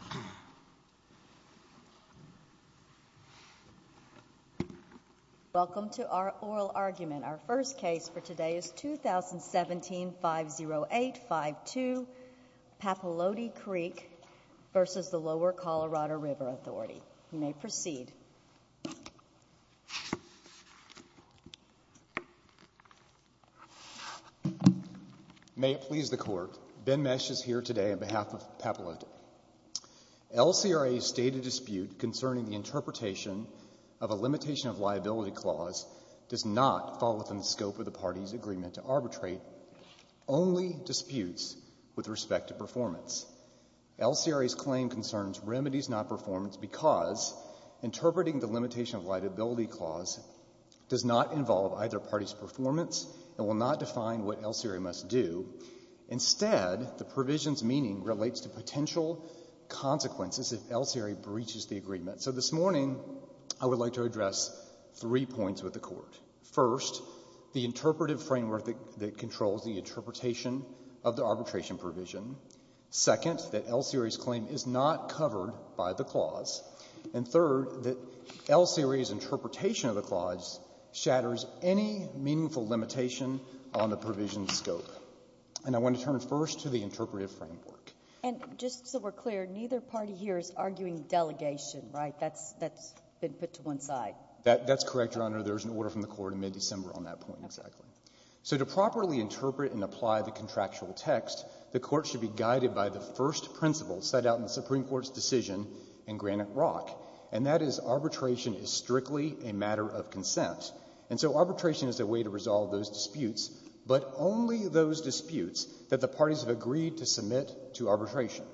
Authority. Welcome to our oral argument. Our first case for today is 2017-508-52, Papalote Creek v. Lower Colorado River Authority. You may proceed. May it please the Court, Ben Mesh is here today on behalf of Papalote. L.C.R.A.'s stated dispute concerning the interpretation of a limitation of liability clause does not fall within the scope of the party's agreement to arbitrate, only disputes with respect to performance. L.C.R.A.'s claim concerns remedies, not performance, because interpreting the limitation of liability clause does not involve either party's performance and will not define what L.C.R.A. must do. Instead, the provision's meaning relates to potential consequences if L.C.R.A. breaches the agreement. So this morning, I would like to address three points with the Court, first, the interpretive framework that controls the interpretation of the arbitration provision, second, that L.C.R.A.'s claim is not covered by the clause, and third, that L.C.R.A.'s interpretation of the clause shatters any meaningful limitation on the provision's scope. And I want to turn first to the interpretive framework. And just so we're clear, neither party here is arguing delegation, right? That's been put to one side. That's correct, Your Honor. There was an order from the Court in mid-December on that point, exactly. So to properly interpret and apply the contractual text, the Court should be guided by the first principle set out in the Supreme Court's decision in Granite Rock, and that is arbitration is strictly a matter of consent. And so arbitration is a way to resolve those disputes, but only those disputes that the parties have agreed to submit to arbitration.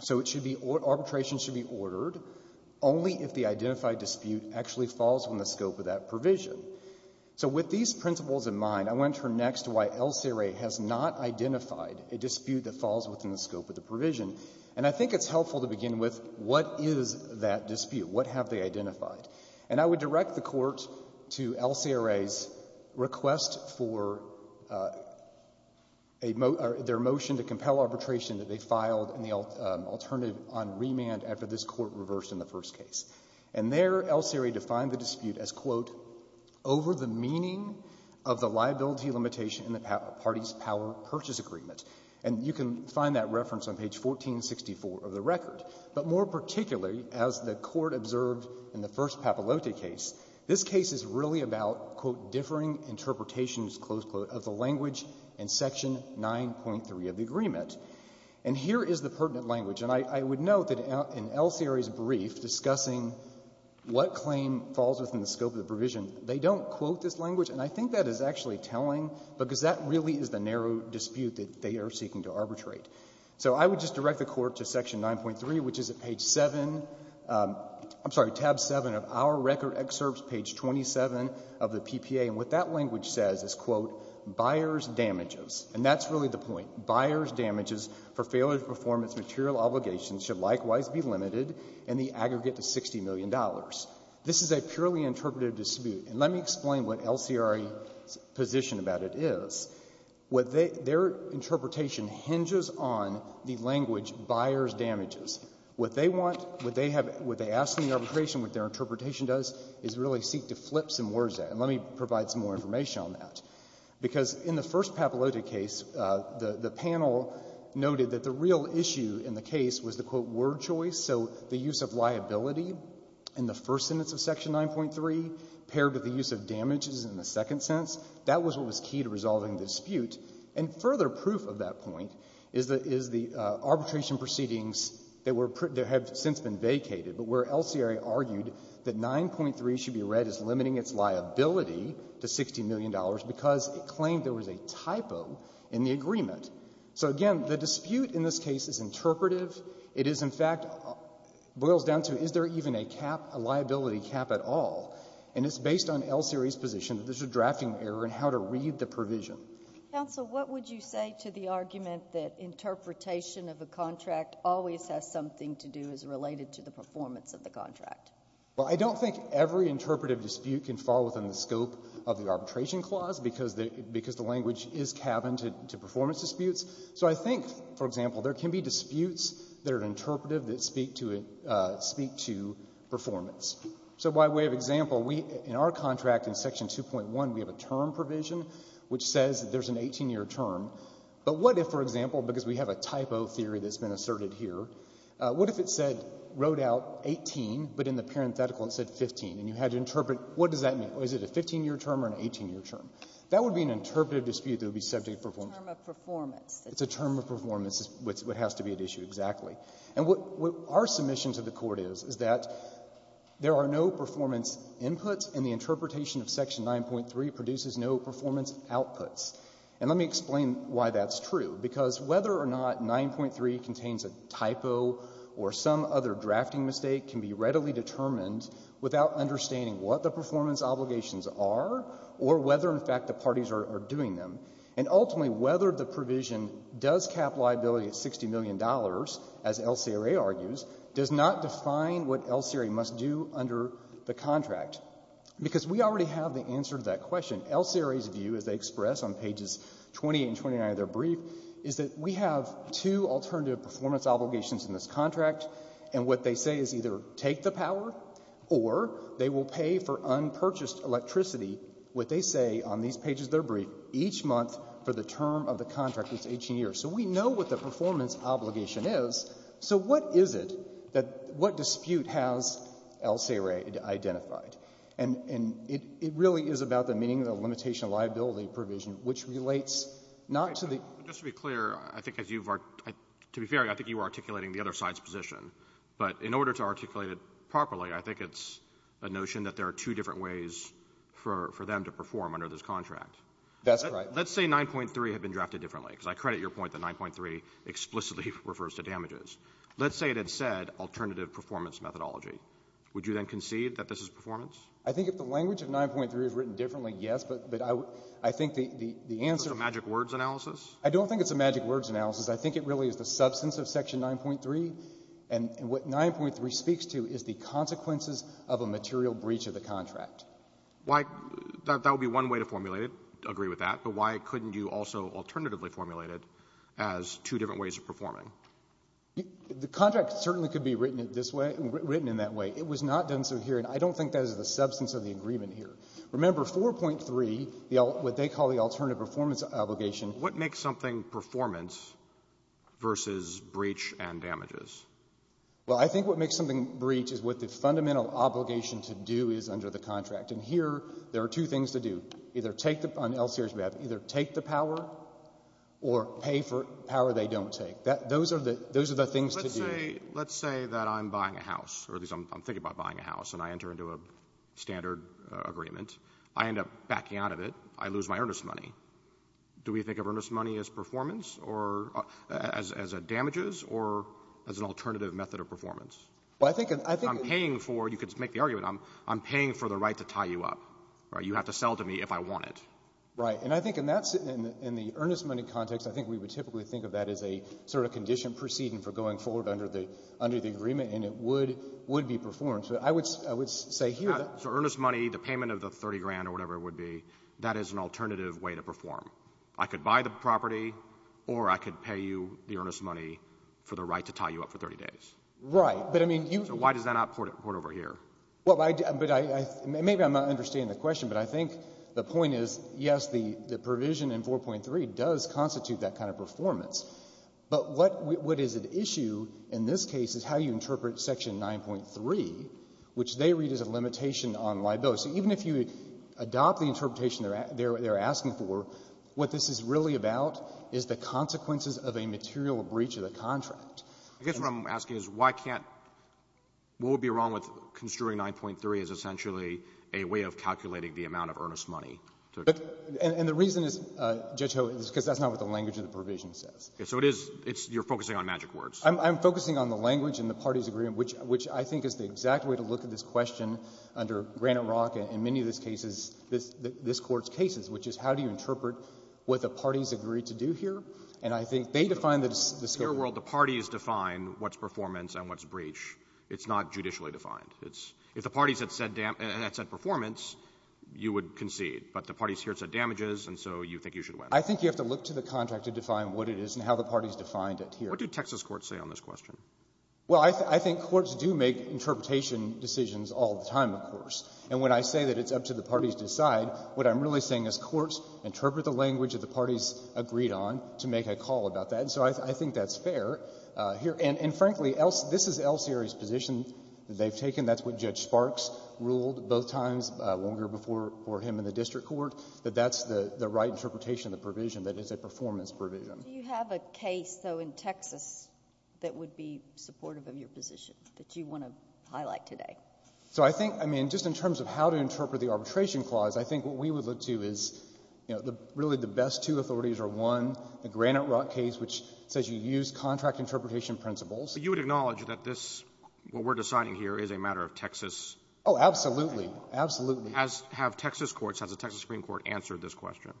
So it should be or – arbitration should be ordered only if the identified dispute actually falls within the scope of that provision. So with these principles in mind, I want to turn next to why L.C.R.A. has not identified a dispute that falls within the scope of the provision. And I think it's helpful to begin with what is that dispute? What have they identified? And I would direct the Court to L.C.R.A.'s request for a – their motion to compel arbitration that they filed in the alternative on remand after this Court reversed in the first case. And there, L.C.R.A. defined the dispute as, quote, over the meaning of the liability limitation in the party's power purchase agreement. And you can find that reference on page 1464 of the record. But more particularly, as the Court observed in the first Papalote case, this case is really about, quote, differing interpretations, close quote, of the language in section 9.3 of the agreement. And here is the pertinent language. And I would note that in L.C.R.A.'s brief discussing what claim falls within the scope of the they're seeking to arbitrate. So I would just direct the Court to section 9.3, which is at page 7 – I'm sorry, tab 7 of our record excerpts, page 27 of the PPA. And what that language says is, quote, buyer's damages. And that's really the point. Buyer's damages for failure to perform its material obligations should likewise be limited in the aggregate to $60 million. This is a purely interpretive dispute. And let me explain what L.C.R.A.'s position about it is. What they – their interpretation hinges on the language buyer's damages. What they want, what they have – what they ask in the arbitration, what their interpretation does, is really seek to flip some words there. And let me provide some more information on that. Because in the first Papalote case, the panel noted that the real issue in the case was the, quote, word choice. So the use of liability in the first sentence of section 9.3 paired with the use of damages in the second sentence, that was what was key to resolving the dispute. And further proof of that point is the – is the arbitration proceedings that were – that have since been vacated, but where L.C.R.A. argued that 9.3 should be read as limiting its liability to $60 million because it claimed there was a typo in the agreement. So, again, the dispute in this case is interpretive. It is, in fact, boils down to is there even a cap, a liability cap at all. And it's based on L.C.R.A.'s position that there's a drafting error in how to read the provision. Counsel, what would you say to the argument that interpretation of a contract always has something to do as related to the performance of the contract? Well, I don't think every interpretive dispute can fall within the scope of the arbitration clause because the – because the language is cabined to performance disputes. So I think, for example, there can be disputes that are interpretive that speak to – speak to performance. So by way of example, we – in our contract, in Section 2.1, we have a term provision which says there's an 18-year term. But what if, for example, because we have a typo theory that's been asserted here, what if it said – wrote out 18, but in the parenthetical it said 15, and you had to interpret – what does that mean? Was it a 15-year term or an 18-year term? That would be an interpretive dispute that would be subject for performance. It's a term of performance. It's a term of performance. It's what has to be at issue, exactly. And what our submission to the Court is, is that there are no performance inputs, and the interpretation of Section 9.3 produces no performance outputs. And let me explain why that's true. Because whether or not 9.3 contains a typo or some other drafting mistake can be readily determined without understanding what the performance obligations are or whether, in fact, the parties are doing them. And ultimately, whether the provision does cap liability at $60 million, as LCRA argues, does not define what LCRA must do under the contract. Because we already have the answer to that question. LCRA's view, as they express on pages 28 and 29 of their brief, is that we have two alternative performance obligations in this contract, and what they say is either take the power or they will pay for unpurchased electricity, what they say on these pages of their brief, each month for the term of the contract that's 18 years. So we know what the performance obligation is. So what is it that what dispute has LCRA identified? And it really is about the meaning of the limitation of liability provision, which relates not to the ---- Roberts. Just to be clear, I think as you've argued, to be fair, I think you are articulating the other side's position. But in order to articulate it properly, I think it's a notion that there are two different ways for them to perform under this contract. That's right. Let's say 9.3 had been drafted differently, because I credit your point that 9.3 explicitly refers to damages. Let's say it had said alternative performance methodology. Would you then concede that this is performance? I think if the language of 9.3 is written differently, yes, but I think the answer ---- Is it a magic words analysis? I don't think it's a magic words analysis. I think it really is the substance of Section 9.3. And what 9.3 speaks to is the consequences of a material breach of the contract. Why ---- that would be one way to formulate it, agree with that. But why couldn't you also alternatively formulate it as two different ways of performing? The contract certainly could be written this way, written in that way. It was not done so here. And I don't think that is the substance of the agreement here. Remember, 4.3, what they call the alternative performance obligation ---- Well, what makes something performance versus breach and damages? Well, I think what makes something breach is what the fundamental obligation to do is under the contract. And here there are two things to do. Either take the ---- on LCR's behalf, either take the power or pay for power they don't take. Those are the things to do. Let's say that I'm buying a house, or at least I'm thinking about buying a house, and I enter into a standard agreement. I end up backing out of it. I lose my earnest money. Do we think of earnest money as performance or as a damages or as an alternative method of performance? Well, I think ---- I'm paying for ---- you could make the argument I'm paying for the right to tie you up, right? You have to sell to me if I want it. Right. And I think in that ---- in the earnest money context, I think we would typically think of that as a sort of condition proceeding for going forward under the agreement, and it would be performance. But I would say here that ---- So earnest money, the payment of the 30 grand or whatever it would be, that is an alternative way to perform. I could buy the property, or I could pay you the earnest money for the right to tie you up for 30 days. Right. But I mean, you ---- So why does that not port over here? Well, I ---- but I ---- maybe I'm not understanding the question, but I think the point is, yes, the provision in 4.3 does constitute that kind of performance. But what is at issue in this case is how you interpret Section 9.3, which they read as a limitation on libel. So even if you adopt the interpretation they're asking for, what this is really about is the consequences of a material breach of the contract. I guess what I'm asking is why can't ---- what would be wrong with construing 9.3 as essentially a way of calculating the amount of earnest money to ---- And the reason is, Judge Ho, is because that's not what the language of the provision says. So it is ---- you're focusing on magic words. I'm focusing on the language in the parties' agreement, which I think is the exact way to look at this question under Granite Rock and many of these cases, this Court's cases, which is how do you interpret what the parties agreed to do here? And I think they define the scope. In the real world, the parties define what's performance and what's breach. It's not judicially defined. It's ---- if the parties had said ---- and had said performance, you would concede. But the parties here said damages, and so you think you should win. I think you have to look to the contract to define what it is and how the parties defined it here. What do Texas courts say on this question? Well, I think courts do make interpretation decisions all the time, of course. And when I say that it's up to the parties to decide, what I'm really saying is courts interpret the language that the parties agreed on to make a call about that. And so I think that's fair here. And frankly, this is Elsieri's position that they've taken. That's what Judge Sparks ruled both times, longer before him in the district court, that that's the right interpretation of the provision, that it's a performance provision. Do you have a case, though, in Texas that would be supportive of your position that you want to highlight today? So I think, I mean, just in terms of how to interpret the arbitration clause, I think what we would look to is, you know, really the best two authorities are, one, the Granite Rock case, which says you use contract interpretation principles. But you would acknowledge that this, what we're deciding here, is a matter of Texas ---- Oh, absolutely. Absolutely. ---- have Texas courts, has the Texas Supreme Court, answered this question?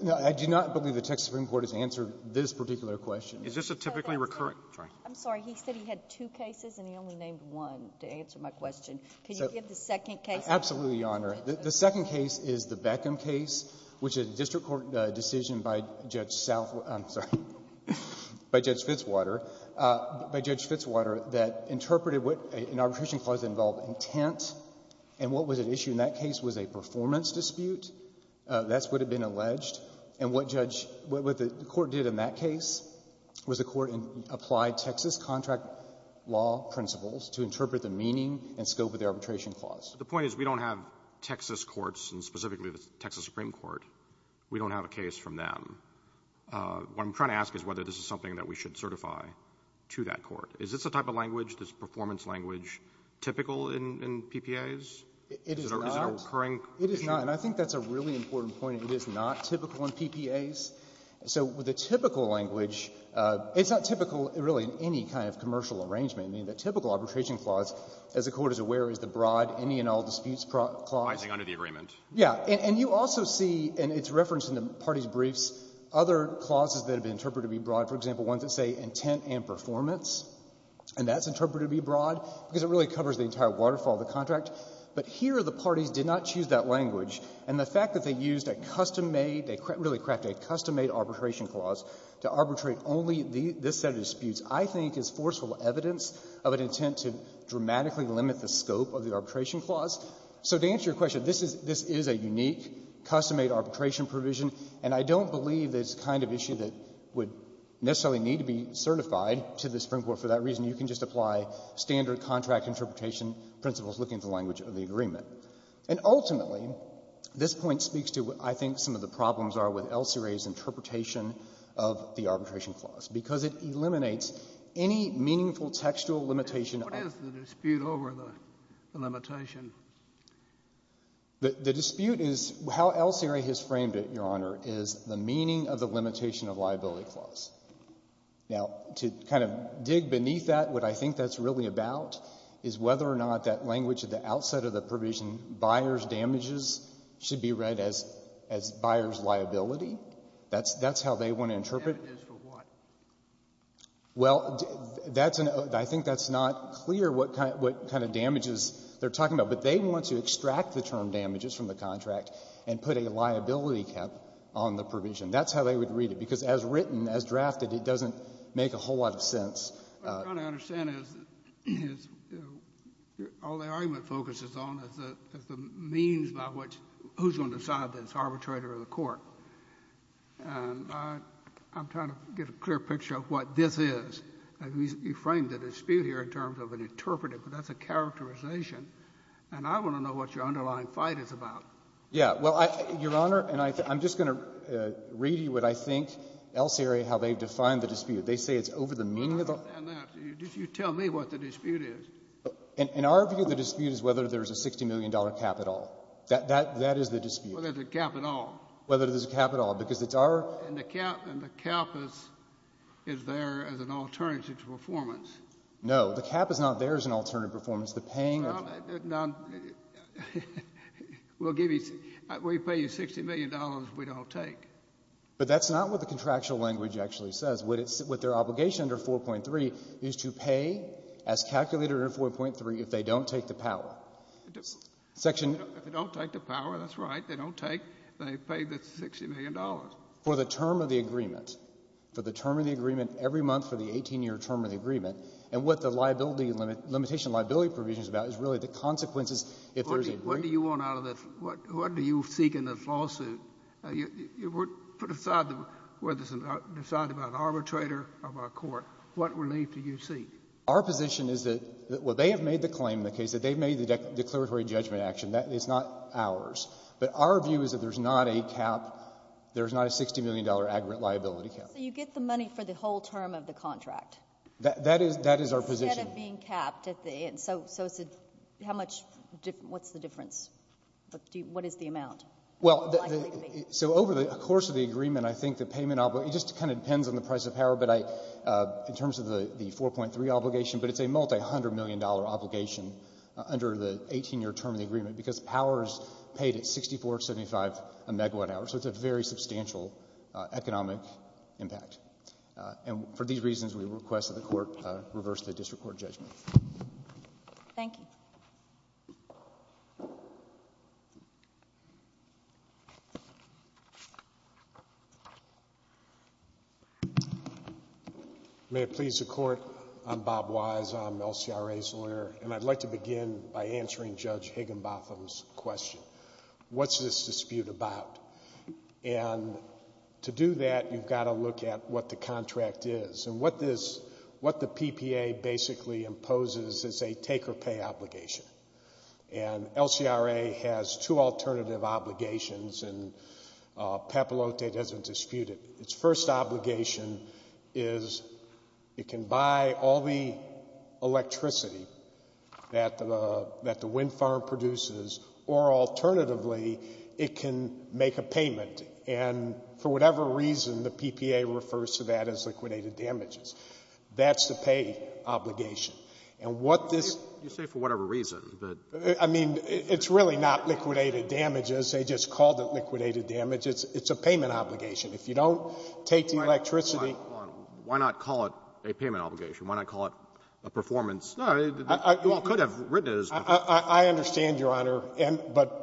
No. I do not believe the Texas Supreme Court has answered this particular question. Is this a typically recurrent? I'm sorry. He said he had two cases, and he only named one to answer my question. Could you give the second case? Absolutely, Your Honor. The second case is the Beckham case, which is a district court decision by Judge Southwater ---- I'm sorry, by Judge Fitzwater, by Judge Fitzwater, that interpreted what an arbitration clause involved intent, and what was at issue in that case was a performance dispute. That's what had been alleged. And what Judge ---- what the court did in that case was the court applied Texas contract law principles to interpret the meaning and scope of the arbitration clause. The point is we don't have Texas courts, and specifically the Texas Supreme Court, we don't have a case from them. What I'm trying to ask is whether this is something that we should certify to that court. Is this the type of language, this performance language, typical in PPAs? It is not. Is it a recurring issue? It is not. And I think that's a really important point. It is not typical in PPAs. So with the typical language, it's not typical really in any kind of commercial arrangement. I mean, the typical arbitration clause, as the Court is aware, is the broad, any-and-all disputes clause. I think under the agreement. Yeah. And you also see, and it's referenced in the parties' briefs, other clauses that have been interpreted to be broad. For example, ones that say intent and performance, and that's interpreted to be broad because it really covers the entire waterfall of the contract. But here, the parties did not choose that language. And the fact that they used a custom-made, they really crafted a custom-made arbitration clause to arbitrate only this set of disputes, I think, is forceful evidence of an intent to dramatically limit the scope of the arbitration clause. So to answer your question, this is a unique custom-made arbitration provision, and I don't believe it's the kind of issue that would necessarily need to be certified to the Supreme Court for that reason. You can just apply standard contract interpretation principles, looking at the language of the agreement. And ultimately, this point speaks to what I think some of the problems are with El Siri's interpretation of the arbitration clause, because it eliminates any meaningful textual limitation. What is the dispute over the limitation? The dispute is how El Siri has framed it, Your Honor, is the meaning of the limitation of liability clause. Now, to kind of dig beneath that, what I think that's really about is whether or not that language at the outset of the provision, buyer's damages, should be read as buyer's liability. That's how they want to interpret it. Sotomayor, for what? Well, that's an — I think that's not clear what kind of damages they're talking about. But they want to extract the term damages from the contract and put a liability cap on the provision. That's how they would read it. Because as written, as drafted, it doesn't make a whole lot of sense. What I'm trying to understand is, you know, all the argument focuses on is the means by which — who's going to decide that it's arbitrary or the court. And I'm trying to get a clear picture of what this is. You framed the dispute here in terms of an interpretive, but that's a characterization. And I want to know what your underlying fight is about. Yeah. Well, Your Honor, and I'm just going to read you what I think, Elsery, how they've defined the dispute. They say it's over the meaning of the — No, no, no. You tell me what the dispute is. In our view, the dispute is whether there's a $60 million cap at all. That is the dispute. Whether there's a cap at all. Whether there's a cap at all. Because it's our — And the cap is there as an alternative to performance. No. The cap is not there as an alternative to performance. The paying of — Well, we'll give you — we pay you $60 million we don't take. But that's not what the contractual language actually says. What their obligation under 4.3 is to pay, as calculated under 4.3, if they don't take the power. If they don't take the power, that's right, they don't take, they pay the $60 million. For the term of the agreement. For the term of the agreement every month for the 18-year term of the agreement. And what the liability — limitation of liability provision is about is really the consequences if there's a — What do you want out of the — what do you seek in this lawsuit? Put aside whether it's decided by an arbitrator or by a court, what relief do you seek? Our position is that — well, they have made the claim in the case that they've made the declaratory judgment action. That is not ours. But our view is that there's not a cap — there's not a $60 million aggregate liability cap. So you get the money for the whole term of the contract? That is our position. Instead of being capped at the end. So how much — what's the difference? What is the amount? Well, so over the course of the agreement, I think the payment — it just kind of depends on the price of power. But in terms of the 4.3 obligation, but it's a multi-hundred million dollar obligation under the 18-year term of the agreement. Because power is paid at $64.75 a megawatt hour. So it's a very substantial economic impact. And for these reasons, we request that the court reverse the district court judgment. Thank you. May it please the court. I'm Bob Wise. I'm an LCRA lawyer. And I'd like to begin by answering Judge Higginbotham's question. What's this dispute about? And to do that, you've got to look at what the contract is. And what this — what the PPA basically imposes is a take-or-pay obligation. And LCRA has two alternative obligations. And Papalote doesn't dispute it. Its first obligation is it can buy all the electricity that the wind farm produces. Or alternatively, it can make a payment. And for whatever reason, the PPA refers to that as liquidated damages. That's the pay obligation. And what this — You say for whatever reason, but — I mean, it's really not liquidated damages. They just called it liquidated damages. It's a payment obligation. If you don't take the electricity — Why not call it a payment obligation? Why not call it a performance — you all could have written it as — I understand, Your Honor, but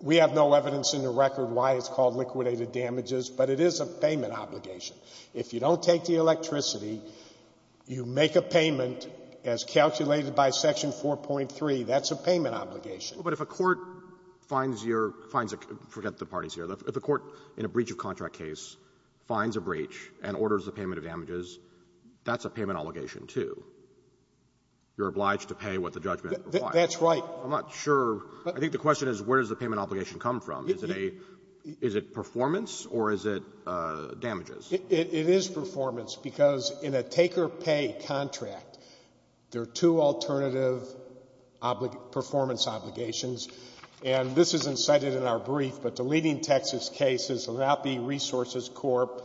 we have no evidence in the record why it's called liquidated damages. But it is a payment obligation. If you don't take the electricity, you make a payment as calculated by Section 4.3. That's a payment obligation. But if a court finds your — forget the parties here — if a court in a breach-of-contract case finds a breach and orders the payment of damages, that's a payment obligation, too. You're obliged to pay what the judgment requires. That's right. I'm not sure. I think the question is, where does the payment obligation come from? Is it a — is it performance, or is it damages? It is performance, because in a take-or-pay contract, there are two alternative performance obligations. And this isn't cited in our brief, but the leading Texas case is the NAPI Resources Corp.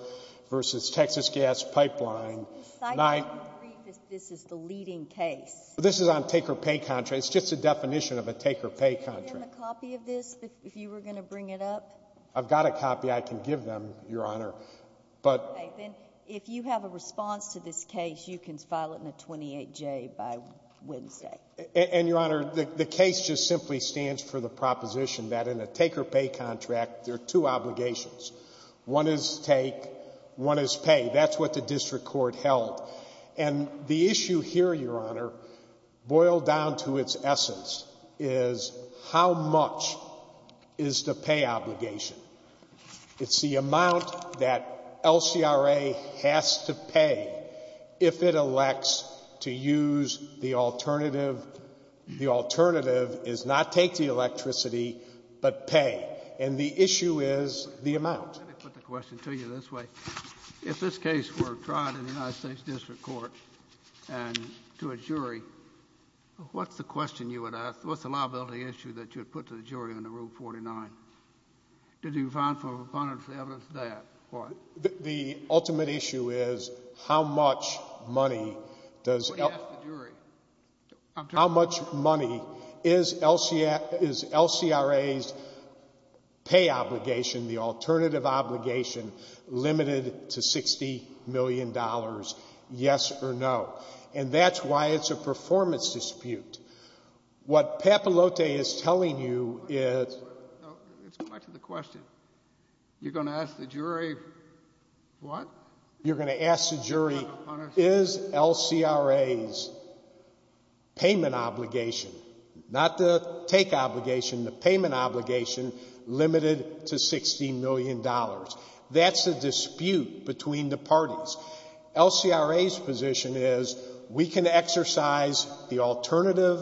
v. Texas Gas Pipeline. This isn't cited in the brief. This is the leading case. This is on take-or-pay contracts. It's just a definition of a take-or-pay contract. Do you have a copy of this, if you were going to bring it up? I've got a copy. I can give them, Your Honor. But — Okay. Then, if you have a response to this case, you can file it in a 28-J by Wednesday. And Your Honor, the case just simply stands for the proposition that in a take-or-pay contract, there are two obligations. One is take. One is pay. That's what the district court held. And the issue here, Your Honor, boiled down to its essence, is how much is the pay obligation. It's the amount that LCRA has to pay if it elects to use the alternative. The alternative is not take the electricity, but pay. And the issue is the amount. Let me put the question to you this way. If this case were tried in the United States district court and to a jury, what's the question you would ask? What's the liability issue that you would put to the jury under Rule 49? Did you find a proponent for the evidence of that? The ultimate issue is how much money does — What do you ask the jury? — how much money is LCRA's pay obligation, the alternative obligation, limited to $60 million, yes or no? And that's why it's a performance dispute. What Papalote is telling you is — No, let's go back to the question. You're going to ask the jury what? You're going to ask the jury, is LCRA's payment obligation — not the take obligation, the payment obligation — limited to $60 million? That's the dispute between the parties. LCRA's position is we can exercise the alternative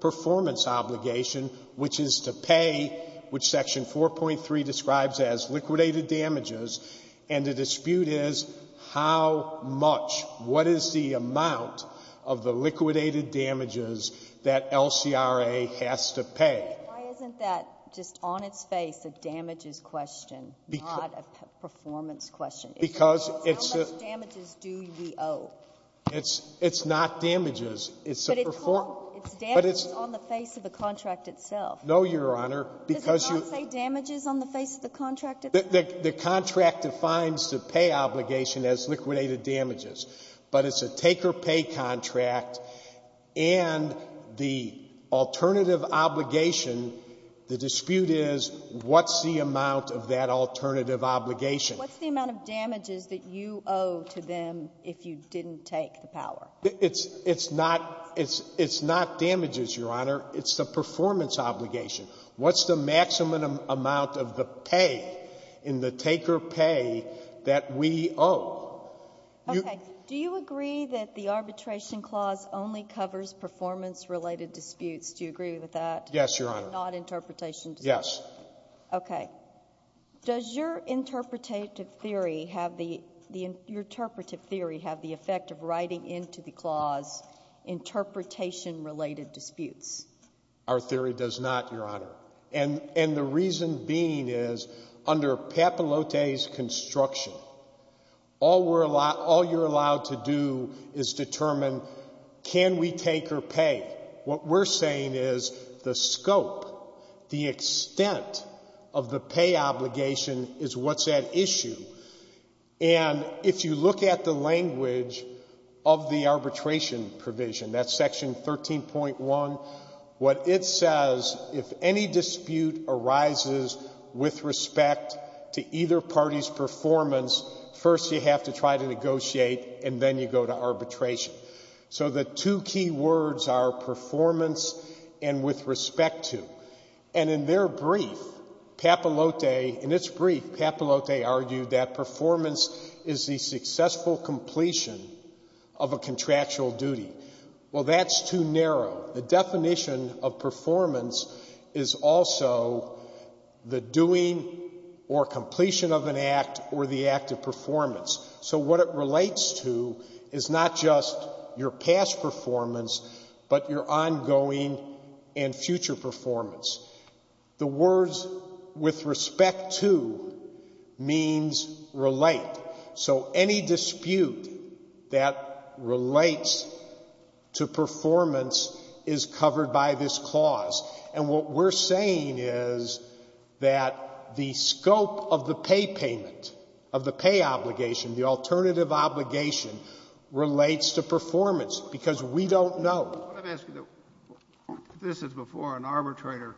performance obligation, which is to pay, which Section 4.3 describes as liquidated damages. And the dispute is how much, what is the amount of the liquidated damages that LCRA has to pay? Why isn't that just on its face a damages question, not a performance question? Because it's a — How much damages do we owe? It's not damages. But it's damages on the face of the contract itself. No, Your Honor. Does it not say damages on the face of the contract itself? The contract defines the pay obligation as liquidated damages. But it's a take-or-pay contract. And the alternative obligation, the dispute is what's the amount of that alternative obligation? What's the amount of damages that you owe to them if you didn't take the power? It's not — it's not damages, Your Honor. It's the performance obligation. What's the maximum amount of the pay in the take-or-pay that we owe? Okay. Do you agree that the Arbitration Clause only covers performance-related disputes? Do you agree with that? Yes, Your Honor. Not interpretation disputes? Yes. Okay. Does your interpretative theory have the — your interpretative theory have the effect of writing into the clause interpretation-related disputes? Our theory does not, Your Honor. And — and the reason being is under Papalote's construction, all we're — all you're allowed to do is determine can we take or pay? What we're saying is the scope, the extent of the pay obligation is what's at issue. And if you look at the language of the arbitration provision, that's Section 13.1, what it says, if any dispute arises with respect to either party's performance, first you have to try to negotiate, and then you go to arbitration. So the two key words are performance and with respect to. And in their brief, Papalote — in its brief, Papalote argued that performance is the successful completion of a contractual duty. Well, that's too narrow. The definition of performance is also the doing or completion of an act or the act of performance. So what it relates to is not just your past performance, but your ongoing and future performance. The words with respect to means relate. So any dispute that relates to performance is covered by this clause. And what we're saying is that the scope of the pay payment, of the pay obligation, the alternative obligation, relates to performance, because we don't know. Let me ask you, though, if this is before an arbitrator,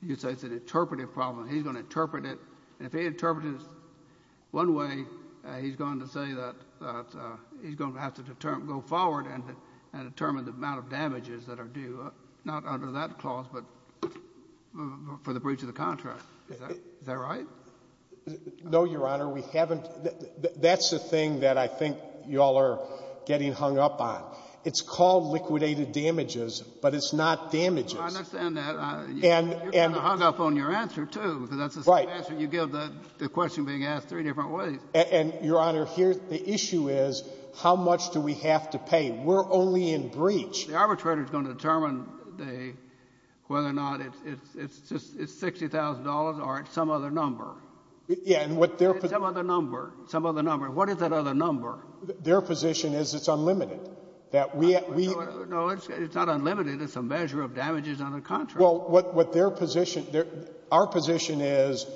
you say it's an interpretive problem. He's going to interpret it, and if he interprets it one way, he's going to say that he's going to have to go forward and determine the amount of damages that are due, not under that clause, but for the breach of the contract. Is that right? No, Your Honor. We haven't — that's the thing that I think you all are getting hung up on. It's called liquidated damages, but it's not damages. No, I understand that. You're kind of hung up on your answer, too, because that's the same answer you give the question being asked three different ways. And, Your Honor, here, the issue is how much do we have to pay. We're only in breach. The arbitrator is going to determine whether or not it's $60,000 or it's some other number. Yeah, and what their — Some other number. Some other number. What is that other number? Their position is it's unlimited. That we — No, it's not unlimited. It's a measure of damages on a contract. Well, what their position — our position is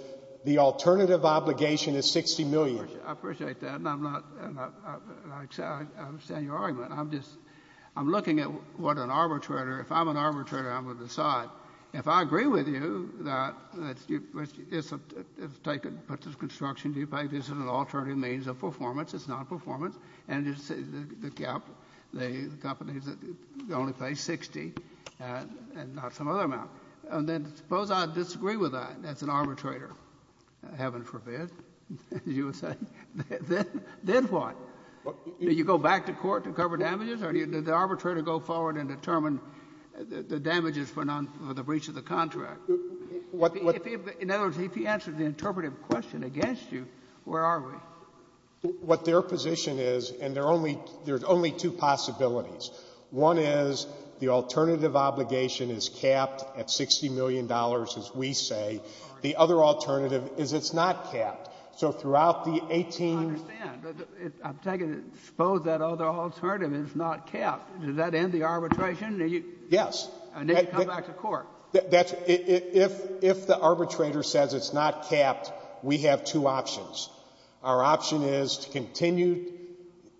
the alternative obligation is $60 million. I appreciate that, and I'm not — I understand your argument. I'm just — I'm looking at what an arbitrator — if I'm an arbitrator, I'm going to decide. If I agree with you that it's a — it's taken — put this construction due payment, this is an alternative means of performance, it's not performance, and it's the gap, the companies that only pay $60,000 and not some other amount, and then suppose I disagree with that as an arbitrator, heaven forbid, as you would say, then what? Do you go back to court to cover damages, or is it arbitrary to go forward and determine the damages for the breach of the contract? What — In other words, if he answers the interpretive question against you, where are we? What their position is — and there are only two possibilities. One is the alternative obligation is capped at $60 million, as we say. The other alternative is it's not capped. So throughout the 18 — I understand. But I'm taking — suppose that other alternative is not capped, does that end the arbitration? Do you — Yes. And then you come back to court. That's — if — if the arbitrator says it's not capped, we have two options. Our option is to continue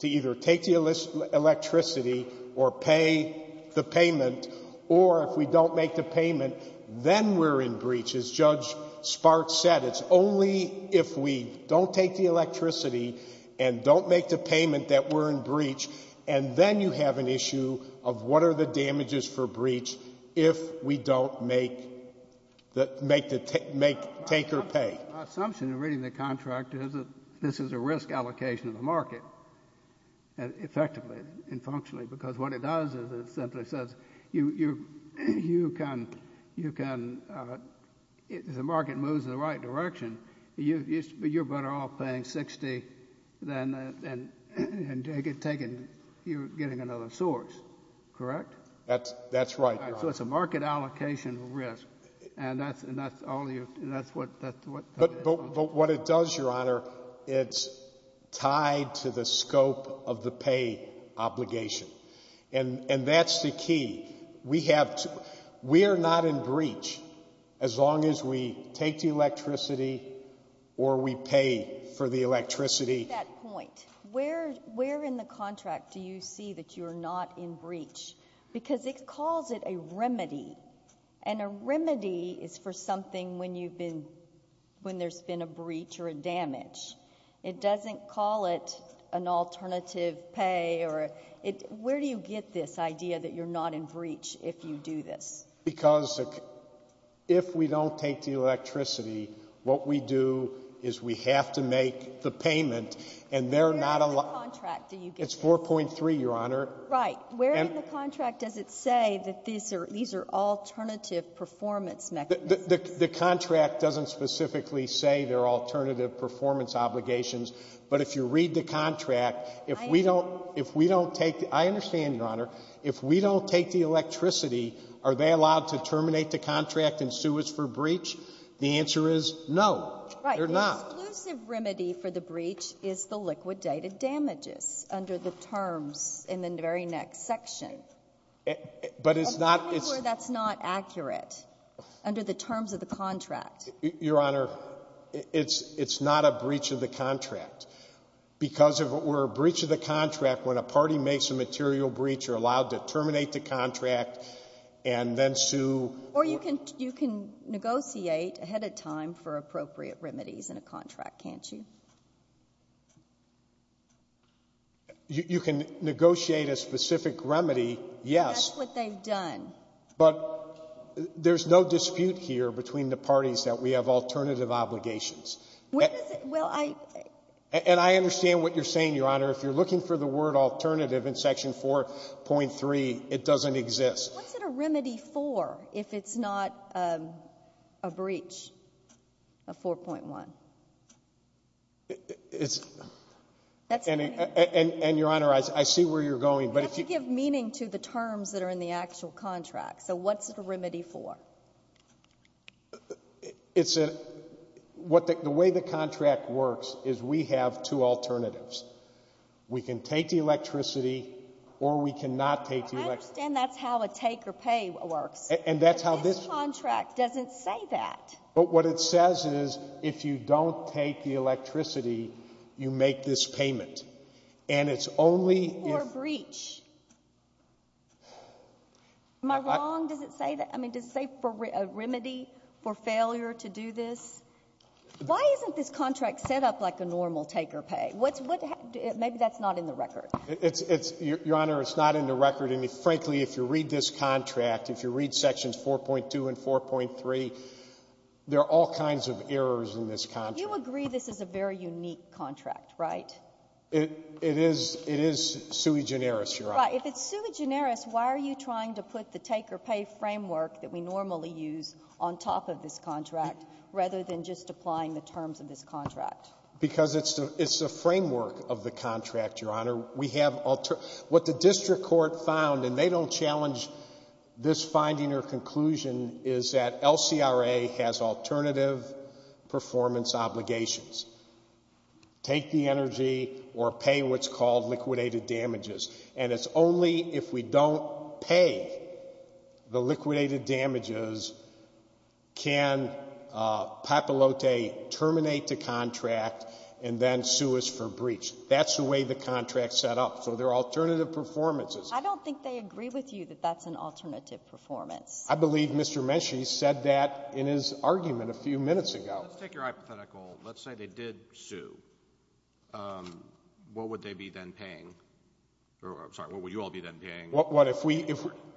to either take the electricity or pay the payment, or if we don't make the payment, then we're in breach, as Judge Sparks said. It's only if we don't take the electricity and don't make the payment that we're in breach, and then you have an issue of what are the damages for breach if we don't make the — make the — make — take or pay. My assumption in reading the contract is that this is a risk allocation of the market, effectively and functionally, because what it does is it simply says you — you can — you can — if the market moves in the right direction, you — you're better off paying 60 than — and taking — you're getting another source, correct? That's — that's right, Your Honor. So it's a market allocation risk, and that's — and that's all you — and that's what — that's what — But — but what it does, Your Honor, it's tied to the scope of the pay obligation. And that's the key. We have to — we are not in breach as long as we take the electricity or we pay for the electricity. At that point, where — where in the contract do you see that you are not in breach? Because it calls it a remedy. And a remedy is for something when you've been — when there's been a breach or a damage. It doesn't call it an alternative pay or a — it — where do you get this idea that you're not in breach if you do this? Because if we don't take the electricity, what we do is we have to make the payment, and they're not — Where in the contract do you get this? It's 4.3, Your Honor. Right. And — Where in the contract does it say that these are — these are alternative performance mechanisms? The — the contract doesn't specifically say they're alternative performance obligations. But if you read the contract — I understand. If we don't — if we don't take — I understand, Your Honor. If we don't take the electricity, are they allowed to terminate the contract and sue us for breach? The answer is no. They're not. Right. The exclusive remedy for the breach is the liquidated damages under the terms in the very next section. But it's not — I'm telling you where that's not accurate, under the terms of the contract. Your Honor, it's — it's not a breach of the contract. Because if it were a breach of the contract, when a party makes a material breach, you're allowed to terminate the contract and then sue — Or you can — you can negotiate ahead of time for appropriate remedies in a contract, can't you? You can negotiate a specific remedy, yes. That's what they've done. But there's no dispute here between the parties that we have alternative obligations. When is it — well, I — And I understand what you're saying, Your Honor. If you're looking for the word alternative in Section 4.3, it doesn't exist. What's it a remedy for if it's not a breach of 4.1? It's — That's — And, Your Honor, I see where you're going, but if you — You have to give meaning to the terms that are in the actual contract. So what's it a remedy for? It's a — what the — the way the contract works is we have two alternatives. We can take the electricity, or we cannot take the electricity. I understand that's how a take-or-pay works. And that's how this — But this contract doesn't say that. But what it says is, if you don't take the electricity, you make this payment. And it's only — Or a breach. Am I wrong? Does it say that? I mean, does it say a remedy for failure to do this? Why isn't this contract set up like a normal take-or-pay? What's — maybe that's not in the record. It's — Your Honor, it's not in the record. And, frankly, if you read this contract, if you read Sections 4.2 and 4.3, there are all kinds of errors in this contract. You agree this is a very unique contract, right? It is — it is sui generis, Your Honor. Right. But if it's sui generis, why are you trying to put the take-or-pay framework that we normally use on top of this contract, rather than just applying the terms of this contract? Because it's the — it's the framework of the contract, Your Honor. We have — what the district court found, and they don't challenge this finding or conclusion, is that LCRA has alternative performance obligations. Take the energy or pay what's called liquidated damages. And it's only if we don't pay the liquidated damages can Papalote terminate the contract and then sue us for breach. That's the way the contract's set up. So there are alternative performances. I don't think they agree with you that that's an alternative performance. I believe Mr. Menchie said that in his argument a few minutes ago. Let's take your hypothetical. Let's say they did sue. What would they be then paying? Or, I'm sorry, what would you all be then paying? What if we —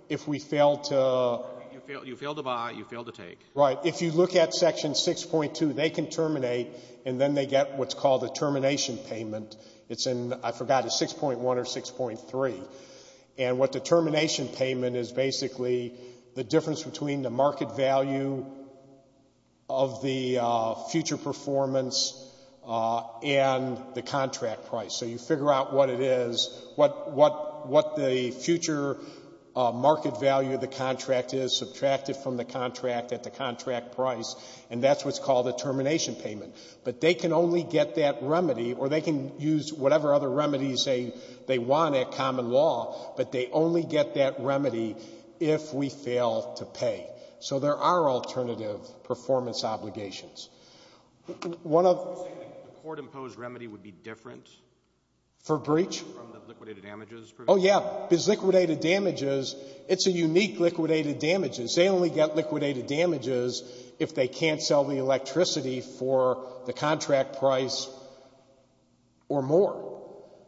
if we fail to — You fail to buy. You fail to take. Right. If you look at Section 6.2, they can terminate, and then they get what's called a termination payment. It's in — I forgot. It's 6.1 or 6.3. And what the termination payment is basically the difference between the market value of the future performance and the contract price. So you figure out what it is, what the future market value of the contract is, subtracted from the contract at the contract price, and that's what's called a termination payment. But they can only get that remedy, or they can use whatever other remedies they want at common law, but they only get that remedy if we fail to pay. So there are alternative performance obligations. One of — You're saying the court-imposed remedy would be different? For breach? From the liquidated damages provision? Oh, yeah. Because liquidated damages, it's a unique liquidated damages. They only get liquidated damages if they can't sell the electricity for the contract price or more.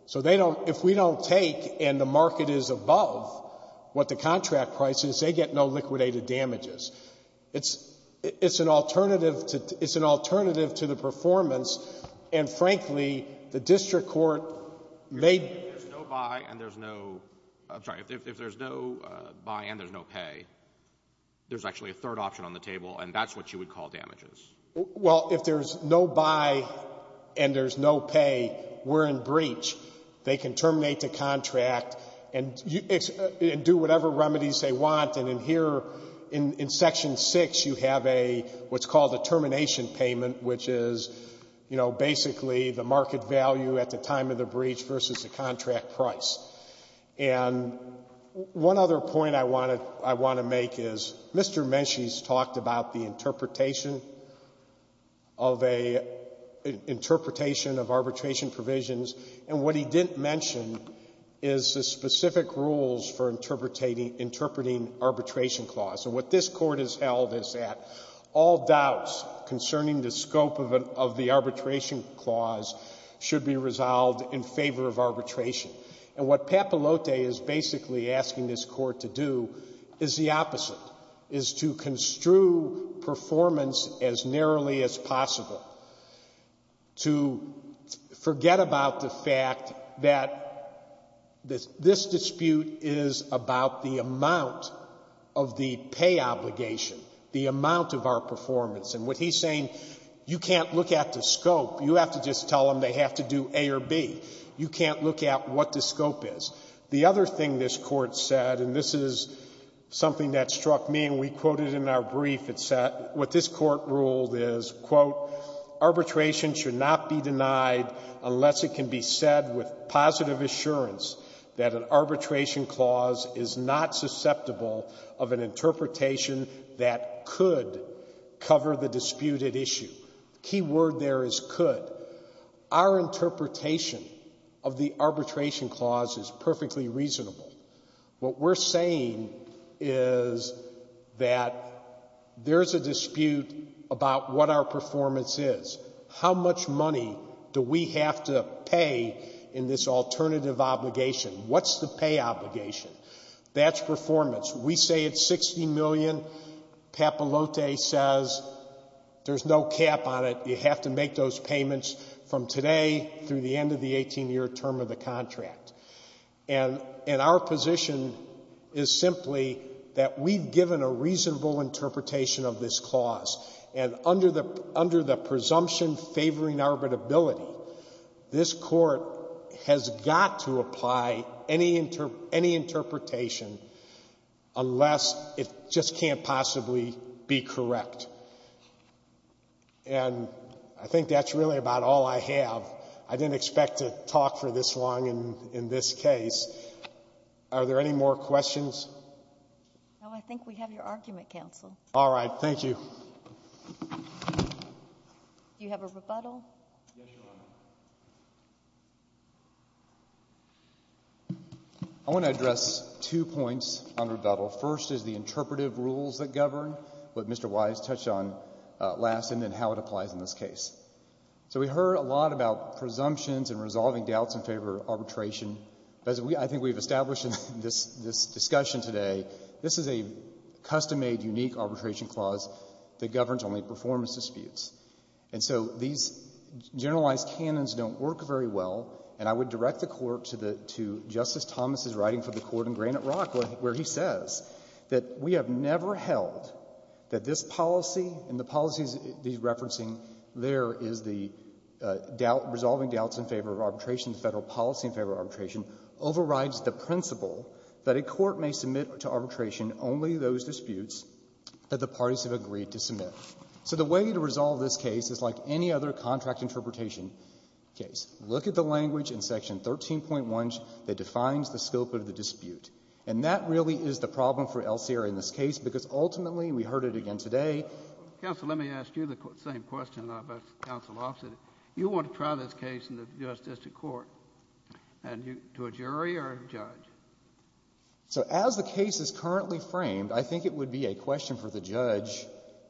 So they don't — if we don't take, and the market is above what the contract price is, they get no liquidated damages. It's an alternative to the performance, and frankly, the district court may — If there's no buy and there's no — I'm sorry. If there's no buy and there's no pay, there's actually a third option on the table, and that's what you would call damages. Well, if there's no buy and there's no pay, we're in breach. They can terminate the contract and do whatever remedies they want. And in here, in Section 6, you have a — what's called a termination payment, which is, you know, basically the market value at the time of the breach versus the contract price. And one other point I want to make is Mr. Menchie's talked about the interpretation of a — interpretation of arbitration provisions, and what he didn't mention is the specific rules for interpreting arbitration clause. And what this Court has held is that all doubts concerning the scope of the arbitration clause should be resolved in favor of arbitration. And what Papalote is basically asking this Court to do is the opposite, is to construe performance as narrowly as possible, to forget about the fact that this dispute is about the amount of the pay obligation, the amount of our performance. And what he's saying, you can't look at the scope. You have to just tell them they have to do A or B. You can't look at what the scope is. The other thing this Court said, and this is something that struck me and we quoted in our brief, it said — what this Court ruled is, quote, arbitration should not be denied unless it can be said with positive assurance that an arbitration clause is not susceptible of an interpretation that could cover the disputed issue. The key word there is could. Our interpretation of the arbitration clause is perfectly reasonable. What we're saying is that there's a dispute about what our performance is. How much money do we have to pay in this alternative obligation? What's the pay obligation? That's performance. We say it's $60 million. Papalote says there's no cap on it. You have to make those payments from today through the end of the 18-year term of the contract. And our position is simply that we've given a reasonable interpretation of this clause, and under the presumption favoring arbitrability, this Court has got to apply any interpretation unless it just can't possibly be correct. And I think that's really about all I have. I didn't expect to talk for this long in this case. Are there any more questions? No, I think we have your argument, counsel. All right. Thank you. Do you have a rebuttal? Yes, Your Honor. I want to address two points on rebuttal. First is the interpretive rules that govern, what Mr. Wise touched on last, and then how it applies in this case. So we heard a lot about presumptions and resolving doubts in favor of arbitration. I think we've established in this discussion today, this is a custom-made unique arbitration clause that governs only performance disputes. And so these generalized canons don't work very well. And I would direct the Court to Justice Thomas's writing for the Court in Granite Rock, where he says that we have never held that this policy and the policies he's referencing there is the doubt, resolving doubts in favor of arbitration, the Federal policy in favor of arbitration, overrides the principle that a court may submit to arbitration only those disputes that the parties have agreed to submit. So the way to resolve this case is like any other contract interpretation case. Look at the language in Section 13.1 that defines the scope of the dispute. And that really is the problem for El Sierra in this case, because ultimately, we heard it again today. Counsel, let me ask you the same question now about counsel Offit. You want to try this case in the U.S. District Court to a jury or a judge? So as the case is currently framed, I think it would be a question for the judge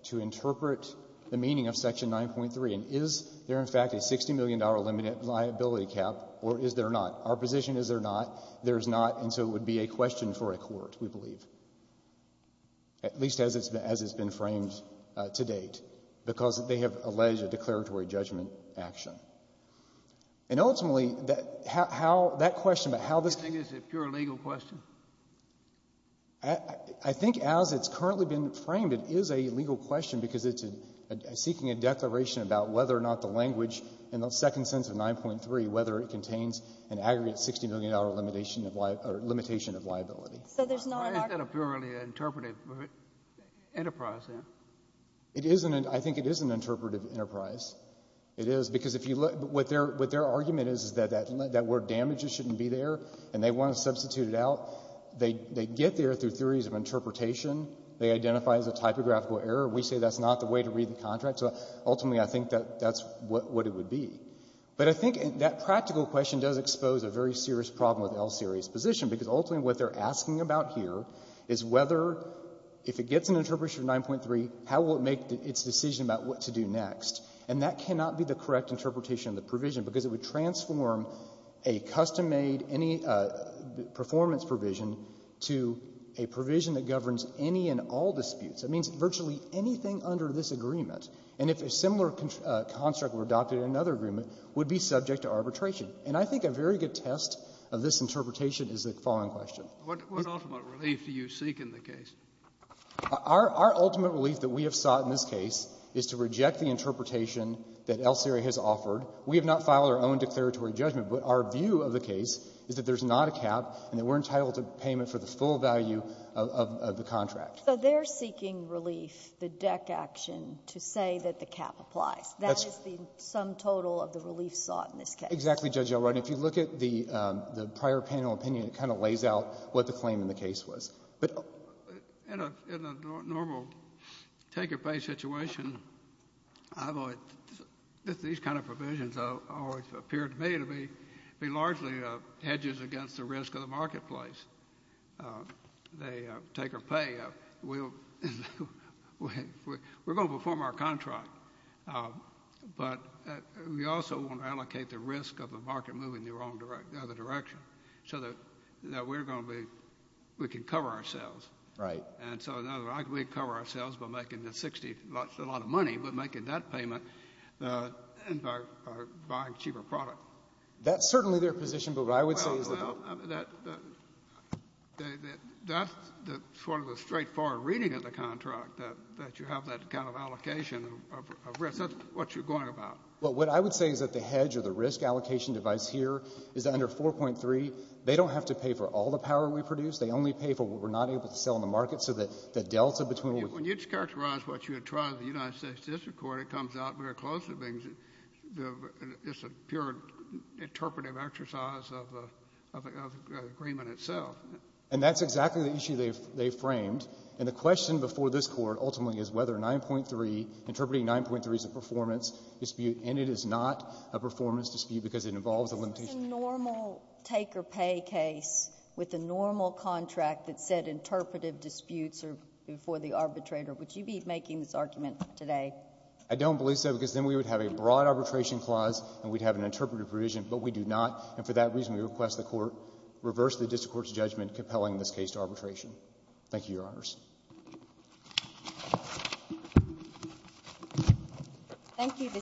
to interpret the meaning of Section 9.3. And is there, in fact, a $60 million liability cap, or is there not? Our position is there not. There is not. And so it would be a question for a court, we believe, at least as it's been framed to date, because they have alleged a declaratory judgment action. And ultimately, how — that question about how this — You think it's a pure legal question? I think as it's currently been framed, it is a legal question because it's seeking a declaration about whether or not the language in the second sense of 9.3, whether it contains an aggregate $60 million limitation of — or limitation of liability. So there's not an argument? Why is that a purely interpretive enterprise, then? It isn't. I think it is an interpretive enterprise. It is. Because if you look — what their argument is, is that that word damages shouldn't be there, and they want to substitute it out. They get there through theories of interpretation. They identify as a typographical error. We say that's not the way to read the contract. So ultimately, I think that that's what it would be. But I think that practical question does expose a very serious problem with LSA's position, because ultimately what they're asking about here is whether, if it gets an interpretation of 9.3, how will it make its decision about what to do next? And that cannot be the correct interpretation of the provision, because it would transform a custom-made performance provision to a provision that governs any and all disputes. That means virtually anything under this agreement, and if a similar construct were adopted in another agreement, would be subject to arbitration. And I think a very good test of this interpretation is the following question. What ultimate relief do you seek in the case? Our ultimate relief that we have sought in this case is to reject the interpretation that Elsery has offered. We have not filed our own declaratory judgment, but our view of the case is that there's not a cap and that we're entitled to payment for the full value of the contract. So they're seeking relief, the deck action, to say that the cap applies. That is the sum total of the relief sought in this case. Exactly, Judge Elrod. And if you look at the prior panel opinion, it kind of lays out what the claim in the case was. In a normal take-or-pay situation, these kind of provisions always appear to me to be largely hedges against the risk of the marketplace. They take or pay. We're going to perform our contract, but we also want to allocate the risk of the market moving in the wrong direction, the other direction, so that we're going to be we can cover ourselves. Right. And so we cover ourselves by making the 60, a lot of money, but making that payment by buying cheaper product. That's certainly their position, but what I would say is that Well, that's sort of the straightforward reading of the contract, that you have that kind of allocation of risk. That's what you're going about. But what I would say is that the hedge or the risk allocation device here is that under 4.3, they don't have to pay for all the power we produce. They only pay for what we're not able to sell in the market, so that the delta between When you'd characterize what you had tried in the United States District Court, it comes out very closely. It's a pure interpretive exercise of the agreement itself. And that's exactly the issue they framed. And the question before this Court ultimately is whether 9.3, interpreting 9.3 as a performance dispute. And it is not a performance dispute because it involves a limitation. Isn't this a normal take-or-pay case with a normal contract that said interpretive disputes are before the arbitrator? Would you be making this argument today? I don't believe so, because then we would have a broad arbitration clause and we'd have an interpretive provision, but we do not. And for that reason, we request the Court reverse the district court's judgment compelling this case to arbitration. Thank you, Your Honors. Thank you.